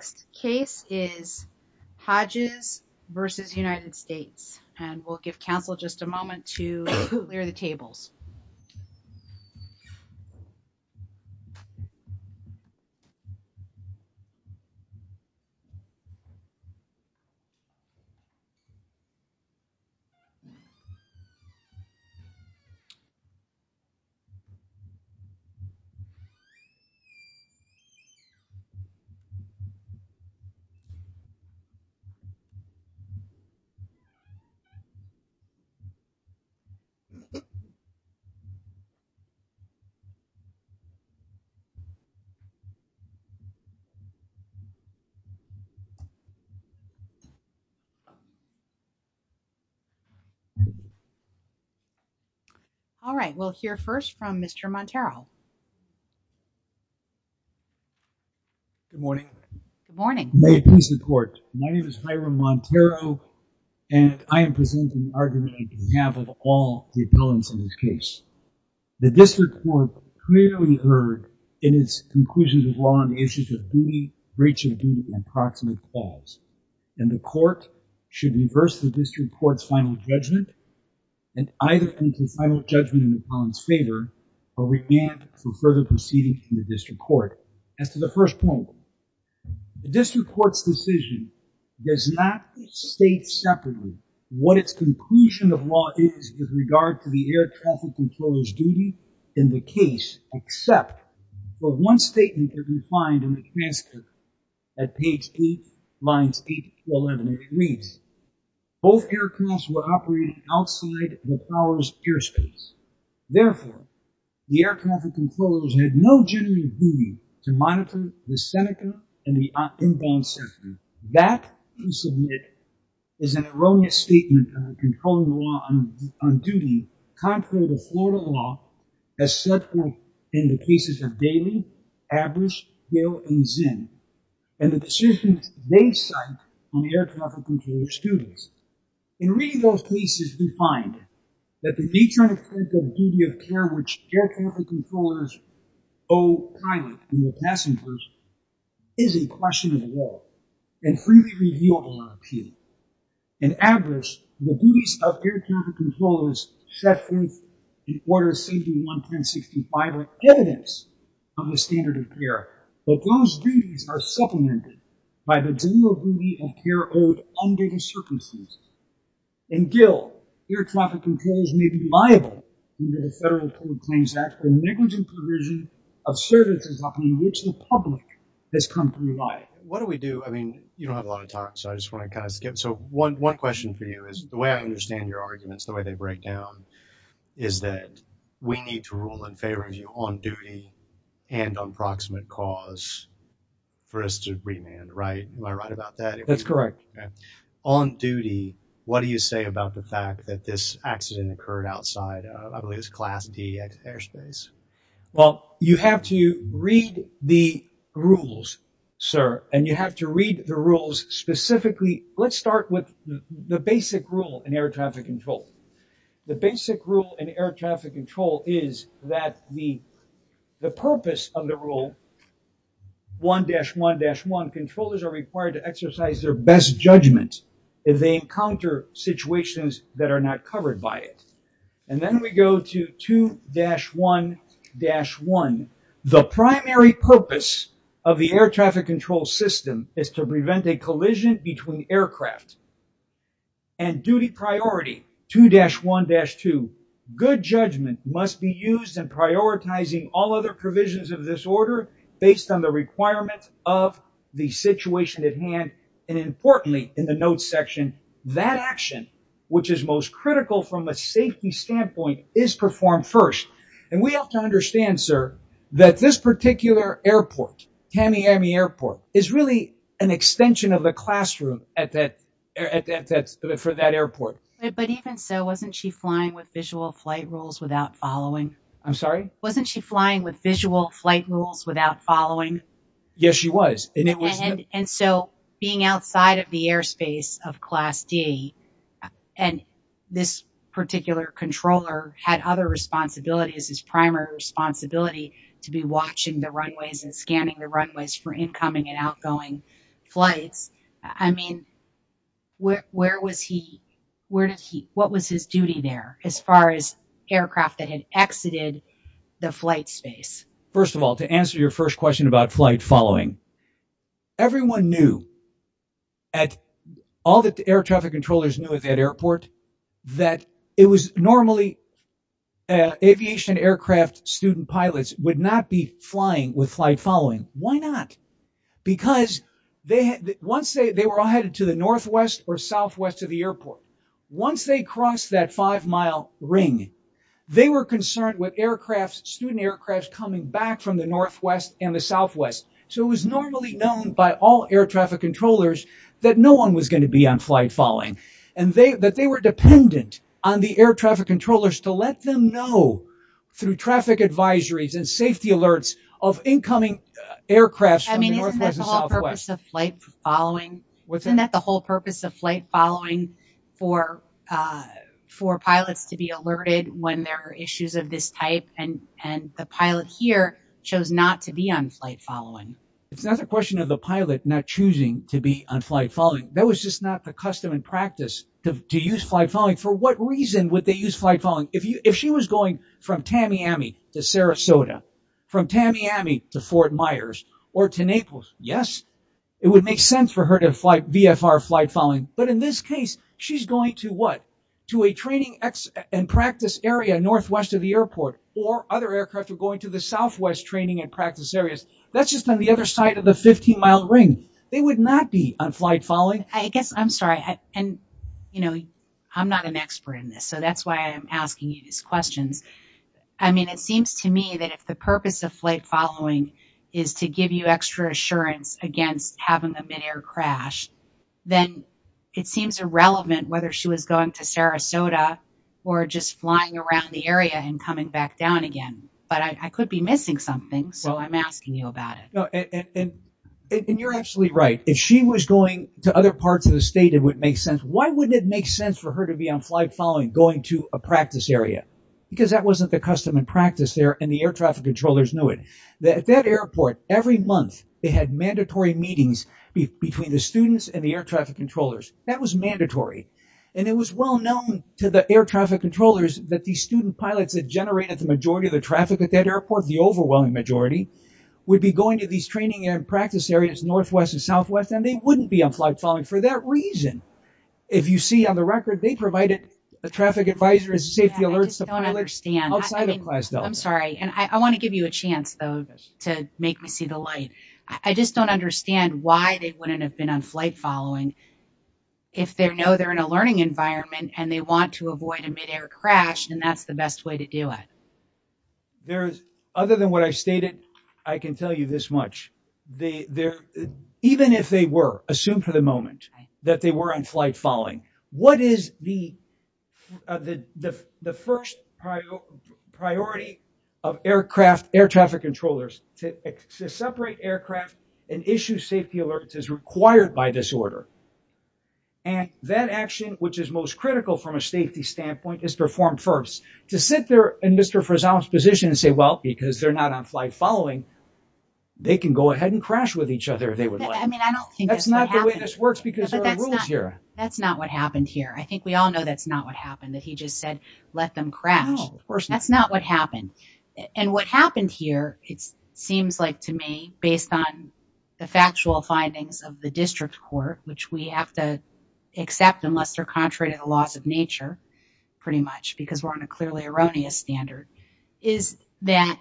The next case is Hodges v. United States and we'll give counsel just a moment to clear the tables. Okay. All right, we'll hear first from Mr. Montero. Good morning. Good morning. May it please the court. My name is Hiram Montero and I am presenting an argument on behalf of all the appellants in this case. The district court clearly heard in its conclusions of law on the issues of duty, breach of duty, and proximate clause. And the court should reverse the district court's final judgment and either come to a final judgment in the appellant's favor or remand for further proceeding in the district court. As to the first point, the district court's decision does not state separately what its conclusion of law is with regard to the air traffic controller's duty in the case, except for one statement that we find in the transcript at page 8, lines 8 to 11. And it reads, both aircrafts were operating outside the power's airspace. Therefore, the air traffic controllers had no general duty to monitor the Seneca and the inbound sector. That, we submit, is an erroneous statement on the controlling law on duty, contrary to Florida law as set forth in the cases of Daly, Aberyst, Hill, and Zinn. And the decisions they cite on the air traffic controller's duties. In reading those cases, we find that the detrimental effect of duty of care which air traffic controllers owe pilots and their passengers is a question of law and freely reviewable on appeal. In Aberyst, the duties of air traffic controllers set forth in Order 71-1065 are evidence of the standard of care. But those duties are supplemented by the general duty of care owed under the circumstances. In Gill, air traffic controllers may be liable under the Federal Code Claims Act for negligent provision of services upon which the public has come to rely. What do we do? I mean, you don't have a lot of time, so I just want to kind of skip. So one question for you is, the way I understand your arguments, the way they break down, is that we need to rule in favor of you on duty and on proximate cause for us to remand, right? Am I right about that? That's correct. On duty, what do you say about the fact that this accident occurred outside, I believe it's Class D airspace? Well, you have to read the rules, sir, and you have to read the rules specifically. Let's start with the basic rule in air traffic control. The basic rule in air traffic control is that the purpose of the rule, 1-1-1, controllers are required to exercise their best judgment if they encounter situations that are not covered by it. And then we go to 2-1-1. The primary purpose of the air traffic control system is to prevent a collision between aircraft. And duty priority, 2-1-2. Good judgment must be used in prioritizing all other provisions of this order based on the requirements of the situation at hand. And importantly, in the notes section, that action, which is most critical from a safety standpoint, is performed first. And we have to understand, sir, that this particular airport, Tamiami Airport, is really an extension of the classroom for that airport. But even so, wasn't she flying with visual flight rules without following? I'm sorry? Wasn't she flying with visual flight rules without following? Yes, she was. And so being outside of the airspace of Class D, and this particular controller had other responsibilities, his primary responsibility to be watching the runways and scanning the runways for incoming and outgoing flights. I mean, where was he, what was his duty there as far as aircraft that had exited the flight space? First of all, to answer your first question about flight following, everyone knew, all the air traffic controllers knew at that airport, that it was normally aviation aircraft student pilots would not be flying with flight following. Why not? Because once they were headed to the northwest or southwest of the airport, once they crossed that five-mile ring, they were concerned with aircraft, student aircraft, coming back from the northwest and the southwest. So it was normally known by all air traffic controllers that no one was going to be on flight following, and that they were dependent on the air traffic controllers to let them know through traffic advisories and safety alerts of incoming aircrafts from the northwest and southwest. Wasn't that the whole purpose of flight following for pilots to be alerted when there are issues of this type, and the pilot here chose not to be on flight following? It's not a question of the pilot not choosing to be on flight following. That was just not the custom and practice to use flight following. For what reason would they use flight following? If she was going from Tamiami to Sarasota, from Tamiami to Fort Myers, or to Naples, yes, it would make sense for her to fly VFR flight following. But in this case, she's going to what? To a training and practice area northwest of the airport, or other aircraft are going to the southwest training and practice areas. That's just on the other side of the 15-mile ring. They would not be on flight following. I'm not an expert in this, so that's why I'm asking you these questions. It seems to me that if the purpose of flight following is to give you extra assurance against having a midair crash, then it seems irrelevant whether she was going to Sarasota or just flying around the area and coming back down again. But I could be missing something, so I'm asking you about it. You're absolutely right. If she was going to other parts of the state, it would make sense. Why wouldn't it make sense for her to be on flight following going to a practice area? Because that wasn't the custom and practice there, and the air traffic controllers knew it. At that airport, every month, they had mandatory meetings between the students and the air traffic controllers. That was mandatory. It was well known to the air traffic controllers that the student pilots that generated the majority of the traffic at that airport, the overwhelming majority, would be going to these training and practice areas northwest and southwest, and they wouldn't be on flight following for that reason. If you see on the record, they provided a traffic advisor and safety alerts to pilots outside of Class Delta. I'm sorry. I want to give you a chance, though, to make me see the light. I just don't understand why they wouldn't have been on flight following if they know they're in a learning environment and they want to avoid a midair crash, and that's the best way to do it. Other than what I stated, I can tell you this much. Even if they were, assume for the moment, that they were on flight following, what is the first priority of air traffic controllers to separate aircraft and issue safety alerts as required by this order? And that action, which is most critical from a safety standpoint, is performed first. To sit there in Mr. Frazell's position and say, well, because they're not on flight following, they can go ahead and crash with each other if they would like. I mean, I don't think that's what happened. That's not the way this works because there are rules here. That's not what happened here. I think we all know that's not what happened, that he just said, let them crash. No, of course not. That's not what happened. And what happened here, it seems like to me, based on the factual findings of the district court, which we have to accept unless they're contrary to the laws of nature, pretty much, because we're on a clearly erroneous standard, is that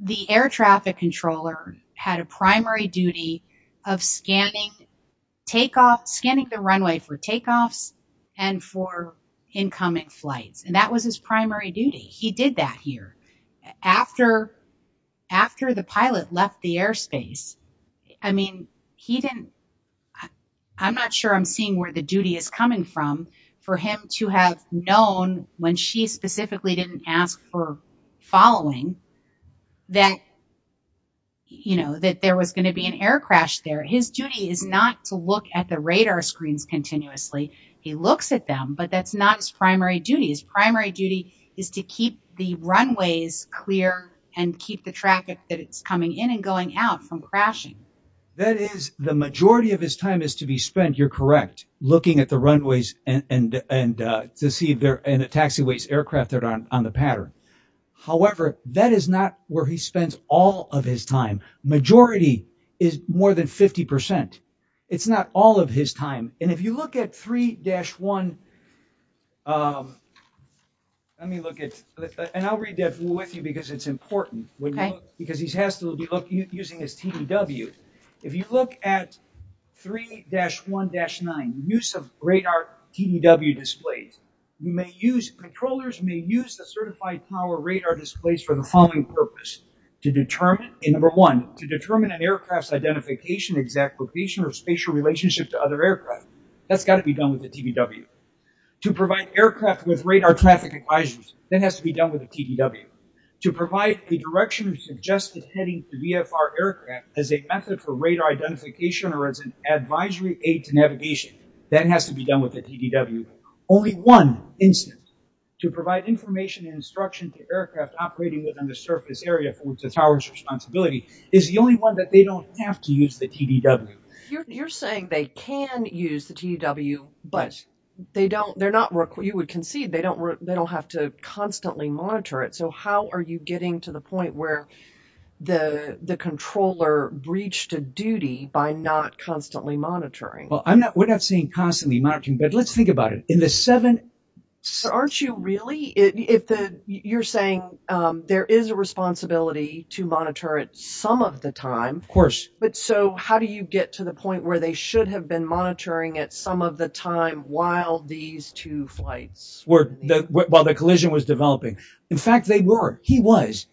the air traffic controller had a primary duty of scanning the runway for takeoffs and for incoming flights. And that was his primary duty. He did that here. After the pilot left the airspace, I mean, I'm not sure I'm seeing where the duty is coming from for him to have known when she specifically didn't ask for following that there was going to be an air crash there. His duty is not to look at the radar screens continuously. He looks at them, but that's not his primary duty. His primary duty is to keep the runways clear and keep the traffic that it's coming in and going out from crashing. That is the majority of his time is to be spent. You're correct. Looking at the runways and to see if they're in a taxiways aircraft on the pattern. However, that is not where he spends all of his time. Majority is more than 50 percent. It's not all of his time. And if you look at 3-1, let me look at, and I'll read that with you because it's important. Because he has to be using his TDW. If you look at 3-1-9, use of radar TDW displays. Controllers may use the certified power radar displays for the following purpose. Number one, to determine an aircraft's identification, exact location, or spatial relationship to other aircraft. That's got to be done with a TDW. To provide aircraft with radar traffic advisories. That has to be done with a TDW. To provide a direction or suggested heading to VFR aircraft as a method for radar identification or as an advisory aid to navigation. That has to be done with a TDW. Only one instance. To provide information and instruction to aircraft operating within the surface area for which the tower's responsibility. It's the only one that they don't have to use the TDW. You're saying they can use the TDW, but you would concede they don't have to constantly monitor it. So how are you getting to the point where the controller breached a duty by not constantly monitoring? We're not saying constantly monitoring, but let's think about it. Aren't you really? You're saying there is a responsibility to monitor it some of the time. Of course. So how do you get to the point where they should have been monitoring it some of the time while these two flights were, while the collision was developing? In fact, they were. He was.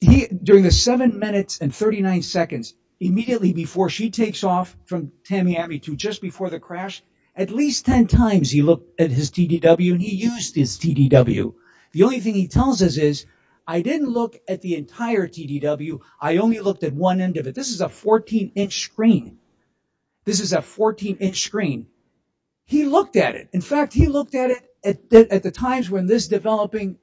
During the seven minutes and 39 seconds immediately before she takes off from Tamiami to just before the crash. At least 10 times he looked at his TDW and he used his TDW. The only thing he tells us is I didn't look at the entire TDW. I only looked at one end of it. This is a 14 inch screen. This is a 14 inch screen. He looked at it. In fact, he looked at it at the times when this developing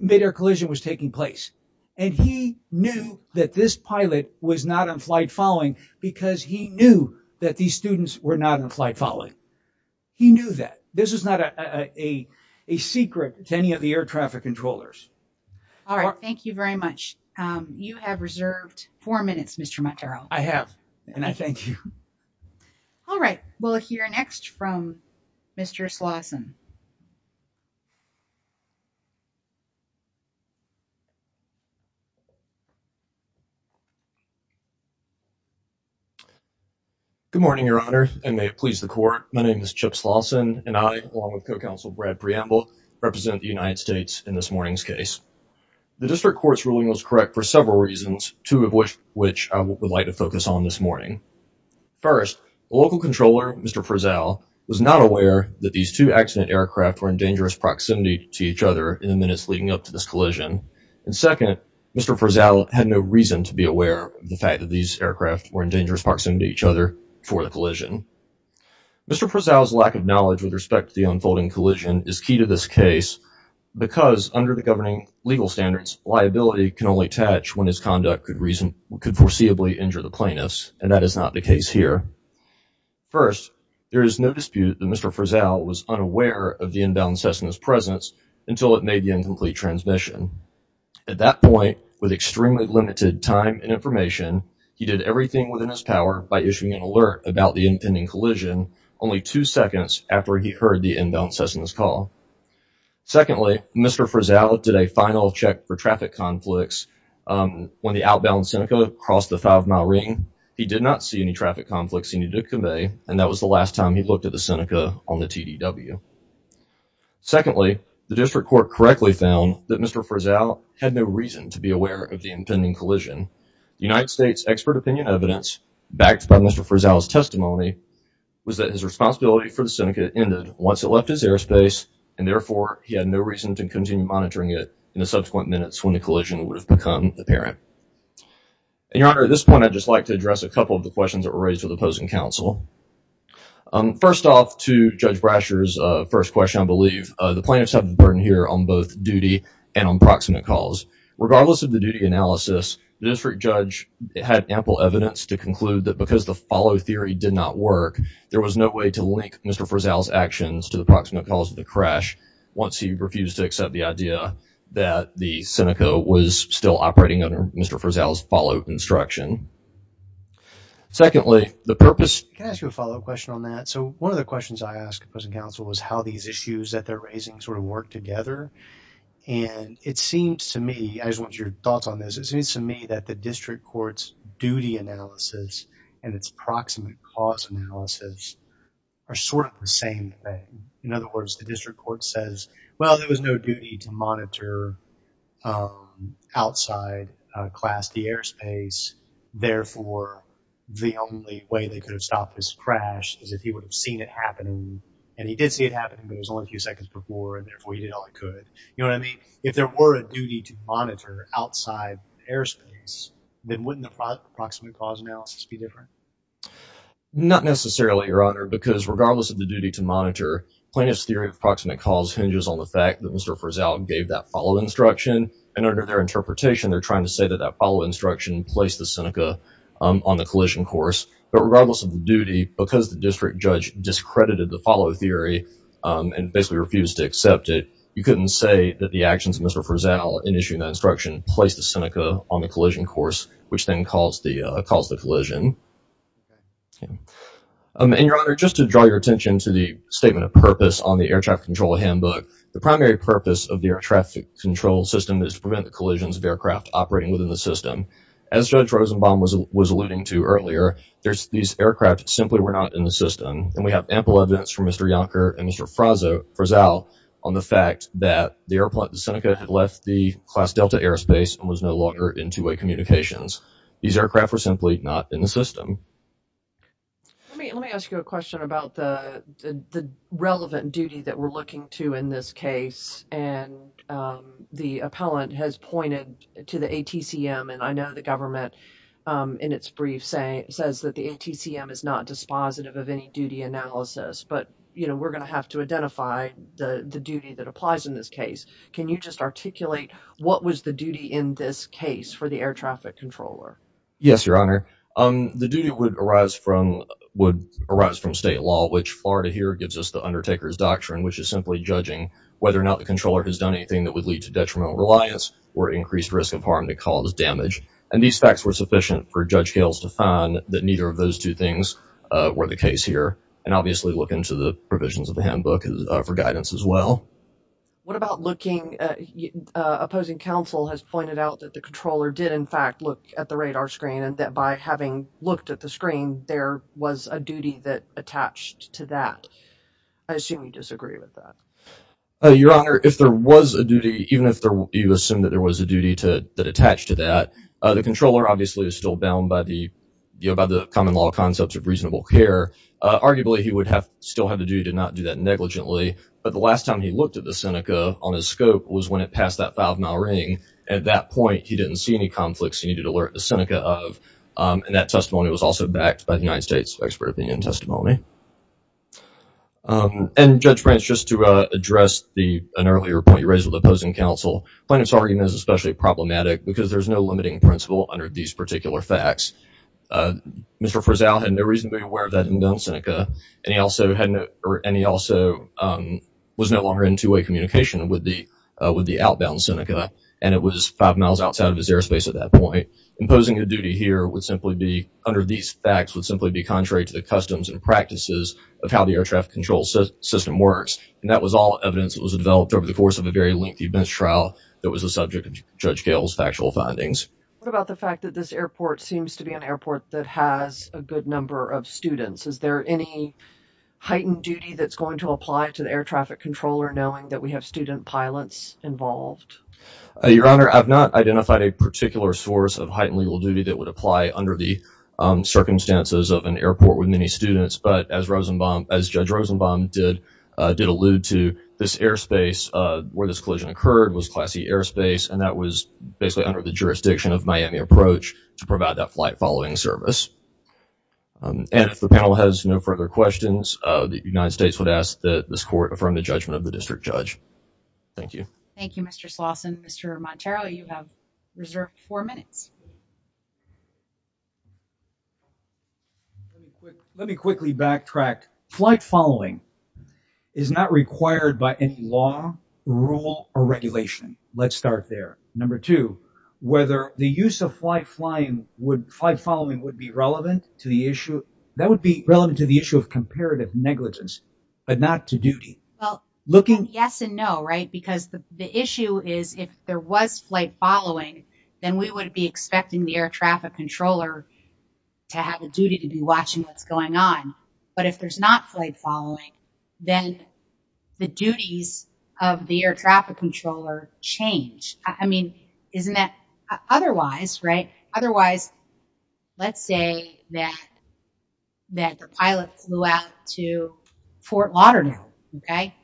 midair collision was taking place. And he knew that this pilot was not on flight following because he knew that these students were not on flight following. He knew that. This is not a secret to any of the air traffic controllers. All right. Thank you very much. You have reserved four minutes, Mr. Montero. I have. And I thank you. All right. We'll hear next from Mr. Slauson. Good morning, Your Honor, and may it please the court. My name is Chip Slauson and I, along with co-counsel Brad Preamble, represent the United States in this morning's case. The district court's ruling was correct for several reasons, two of which I would like to focus on this morning. First, the local controller, Mr. Prezel, was not aware that these two accident aircraft were in dangerous proximity to each other in the minutes leading up to this collision. And second, Mr. Prezel had no reason to be aware of the fact that these aircraft were in dangerous proximity to each other for the collision. Mr. Prezel's lack of knowledge with respect to the unfolding collision is key to this case because, under the governing legal standards, liability can only touch when his conduct could foreseeably injure the plaintiffs, and that is not the case here. First, there is no dispute that Mr. Prezel was unaware of the inbound Cessna's presence until it made the incomplete transmission. At that point, with extremely limited time and information, he did everything within his power by issuing an alert about the impending collision only two seconds after he heard the inbound Cessna's call. Secondly, Mr. Prezel did a final check for traffic conflicts when the outbound Seneca crossed the five-mile ring. He did not see any traffic conflicts he needed to convey, and that was the last time he looked at the Seneca on the TDW. Secondly, the district court correctly found that Mr. Prezel had no reason to be aware of the impending collision. United States expert opinion evidence, backed by Mr. Prezel's testimony, was that his responsibility for the Seneca ended once it left his airspace, and therefore he had no reason to continue monitoring it in the subsequent minutes when the collision would have become apparent. And, Your Honor, at this point, I'd just like to address a couple of the questions that were raised with opposing counsel. First off, to Judge Brasher's first question, I believe. The plaintiffs have the burden here on both duty and on proximate calls. Regardless of the duty analysis, the district judge had ample evidence to conclude that because the follow theory did not work, there was no way to link Mr. Prezel's actions to the proximate calls of the crash once he refused to accept the idea that the Seneca was still operating under Mr. Prezel's follow instruction. Secondly, the purpose... Can I ask you a follow-up question on that? So, one of the questions I asked opposing counsel was how these issues that they're raising sort of work together. And it seems to me, I just want your thoughts on this, it seems to me that the district court's duty analysis and its proximate calls analysis are sort of the same thing. In other words, the district court says, well, there was no duty to monitor outside Class D airspace. Therefore, the only way they could have stopped this crash is if he would have seen it happening. And he did see it happening, but it was only a few seconds before, and therefore, he did all he could. You know what I mean? If there were a duty to monitor outside airspace, then wouldn't the proximate calls analysis be different? Not necessarily, Your Honor, because regardless of the duty to monitor, plaintiff's theory of proximate calls hinges on the fact that Mr. Prezel gave that follow instruction. And under their interpretation, they're trying to say that that follow instruction placed the Seneca on the collision course. But regardless of the duty, because the district judge discredited the follow theory and basically refused to accept it, you couldn't say that the actions of Mr. Prezel in issuing that instruction placed the Seneca on the collision course, which then caused the collision. And, Your Honor, just to draw your attention to the statement of purpose on the air traffic control handbook, the primary purpose of the air traffic control system is to prevent the collisions of aircraft operating within the system. As Judge Rosenbaum was alluding to earlier, these aircraft simply were not in the system. And we have ample evidence from Mr. Yonker and Mr. Prezel on the fact that the airplane, the Seneca, had left the Class Delta airspace and was no longer in two-way communications. These aircraft were simply not in the system. Let me ask you a question about the relevant duty that we're looking to in this case. And the appellant has pointed to the ATCM, and I know the government, in its brief, says that the ATCM is not dispositive of any duty analysis. But, you know, we're going to have to identify the duty that applies in this case. Can you just articulate what was the duty in this case for the air traffic controller? Yes, Your Honor. The duty would arise from state law, which Florida here gives us the undertaker's doctrine, which is simply judging whether or not the controller has done anything that would lead to detrimental reliance or increased risk of harm that caused damage. And these facts were sufficient for Judge Gales to find that neither of those two things were the case here and obviously look into the provisions of the handbook for guidance as well. What about looking? Opposing counsel has pointed out that the controller did, in fact, look at the radar screen and that by having looked at the screen, there was a duty that attached to that. I assume you disagree with that. Your Honor, if there was a duty, even if you assume that there was a duty that attached to that, the controller obviously is still bound by the common law concepts of reasonable care. Arguably, he would still have the duty to not do that negligently. But the last time he looked at the Seneca on his scope was when it passed that five-mile ring. At that point, he didn't see any conflicts he needed to alert the Seneca of, and that testimony was also backed by the United States expert opinion testimony. And, Judge Branch, just to address an earlier point you raised with opposing counsel, plaintiff's argument is especially problematic because there's no limiting principle under these particular facts. Mr. Frizzell had no reason to be aware that he had done Seneca, and he also was no longer in two-way communication with the outbound Seneca, and it was five miles outside of his airspace at that point. Imposing a duty here would simply be, under these facts, would simply be contrary to the customs and practices of how the air traffic control system works. And that was all evidence that was developed over the course of a very lengthy bench trial that was the subject of Judge Gale's factual findings. What about the fact that this airport seems to be an airport that has a good number of students? Is there any heightened duty that's going to apply to the air traffic controller, knowing that we have student pilots involved? Your Honor, I've not identified a particular source of heightened legal duty that would apply under the circumstances of an airport with many students, but as Judge Rosenbaum did allude to, this airspace where this collision occurred was Class E airspace, and that was basically under the jurisdiction of Miami Approach to provide that flight following service. And if the panel has no further questions, the United States would ask that this Court affirm the judgment of the district judge. Thank you. Thank you, Mr. Slauson. Mr. Montero, you have reserved four minutes. Let me quickly backtrack. Flight following is not required by any law, rule, or regulation. Let's start there. Number two, whether the use of flight following would be relevant to the issue. That would be relevant to the issue of comparative negligence, but not to duty. Well, yes and no, right? Because the issue is if there was flight following, then we would be expecting the air traffic controller to have a duty to be watching what's going on. But if there's not flight following, then the duties of the air traffic controller change. I mean, isn't that otherwise, right? Otherwise, let's say that the pilot flew out to Fort Lauderdale, okay,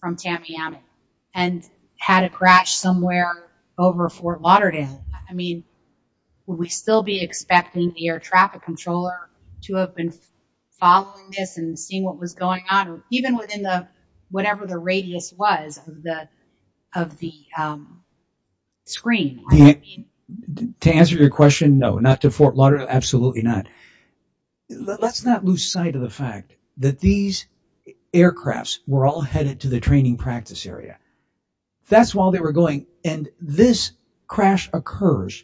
from Tamiami, and had a crash somewhere over Fort Lauderdale. I mean, would we still be expecting the air traffic controller to have been following this and seeing what was going on? Even within whatever the radius was of the screen. To answer your question, no, not to Fort Lauderdale, absolutely not. Let's not lose sight of the fact that these aircrafts were all headed to the training practice area. That's while they were going. And this crash occurs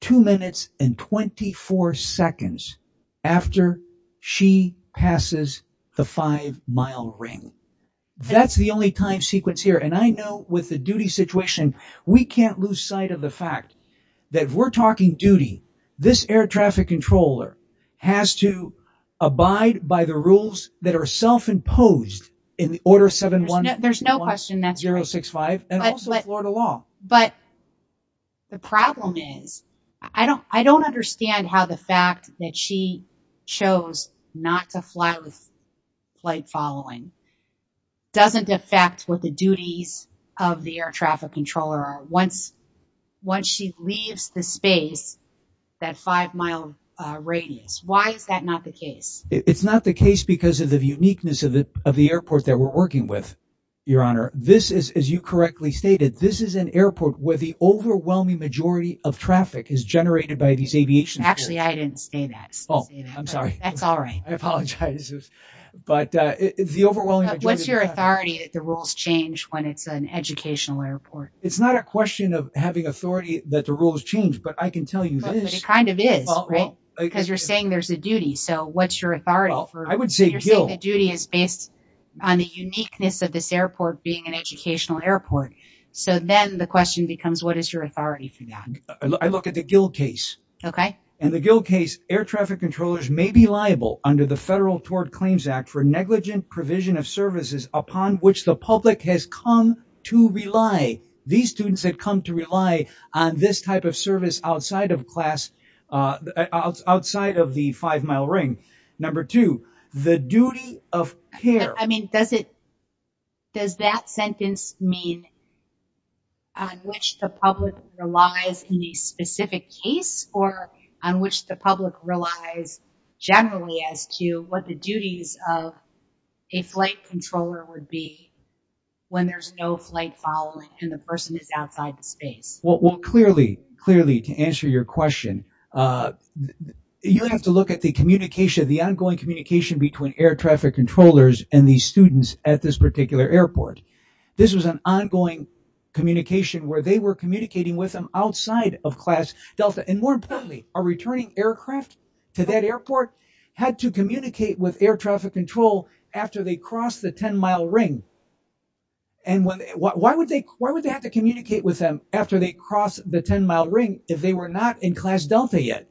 two minutes and 24 seconds after she passes the five-mile ring. That's the only time sequence here. And I know with the duty situation, we can't lose sight of the fact that we're talking duty. This air traffic controller has to abide by the rules that are self-imposed in the Order 7-1. There's no question that's right. And also Florida law. But the problem is, I don't understand how the fact that she chose not to fly with flight following doesn't affect what the duties of the air traffic controller are once she leaves the space, that five-mile radius. Why is that not the case? It's not the case because of the uniqueness of the airport that we're working with, Your Honor. This is, as you correctly stated, this is an airport where the overwhelming majority of traffic is generated by these aviation. Actually, I didn't say that. Oh, I'm sorry. That's all right. I apologize. But the overwhelming majority. What's your authority that the rules change when it's an educational airport? It's not a question of having authority that the rules change, but I can tell you this. Because you're saying there's a duty. So what's your authority? I would say the duty is based on the uniqueness of this airport being an educational airport. So then the question becomes, what is your authority for that? I look at the Gill case. Okay. In the Gill case, air traffic controllers may be liable under the Federal Tort Claims Act for negligent provision of services upon which the public has come to rely. These students have come to rely on this type of service outside of class, outside of the five-mile ring. Number two, the duty of care. Does that sentence mean on which the public relies in the specific case or on which the public relies generally as to what the duties of a flight controller would be when there's no flight following and the person is outside the space? Well, clearly, to answer your question, you have to look at the communication, the ongoing communication between air traffic controllers and the students at this particular airport. This was an ongoing communication where they were communicating with them outside of Class Delta. And more importantly, a returning aircraft to that airport had to communicate with air traffic control after they crossed the 10-mile ring. And why would they have to communicate with them after they crossed the 10-mile ring if they were not in Class Delta yet?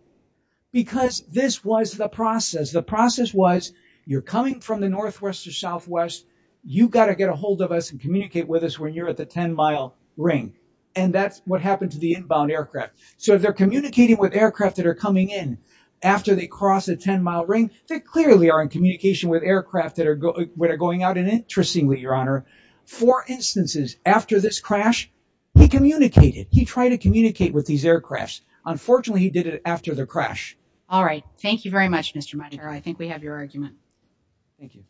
Because this was the process. The process was you're coming from the northwest to southwest. You've got to get a hold of us and communicate with us when you're at the 10-mile ring. And that's what happened to the inbound aircraft. So if they're communicating with aircraft that are coming in after they cross a 10-mile ring, they clearly are in communication with aircraft that are going out. And interestingly, Your Honor, four instances after this crash, he communicated. He tried to communicate with these aircrafts. Unfortunately, he did it after the crash. All right. Thank you very much, Mr. Montero. I think we have your argument. Thank you.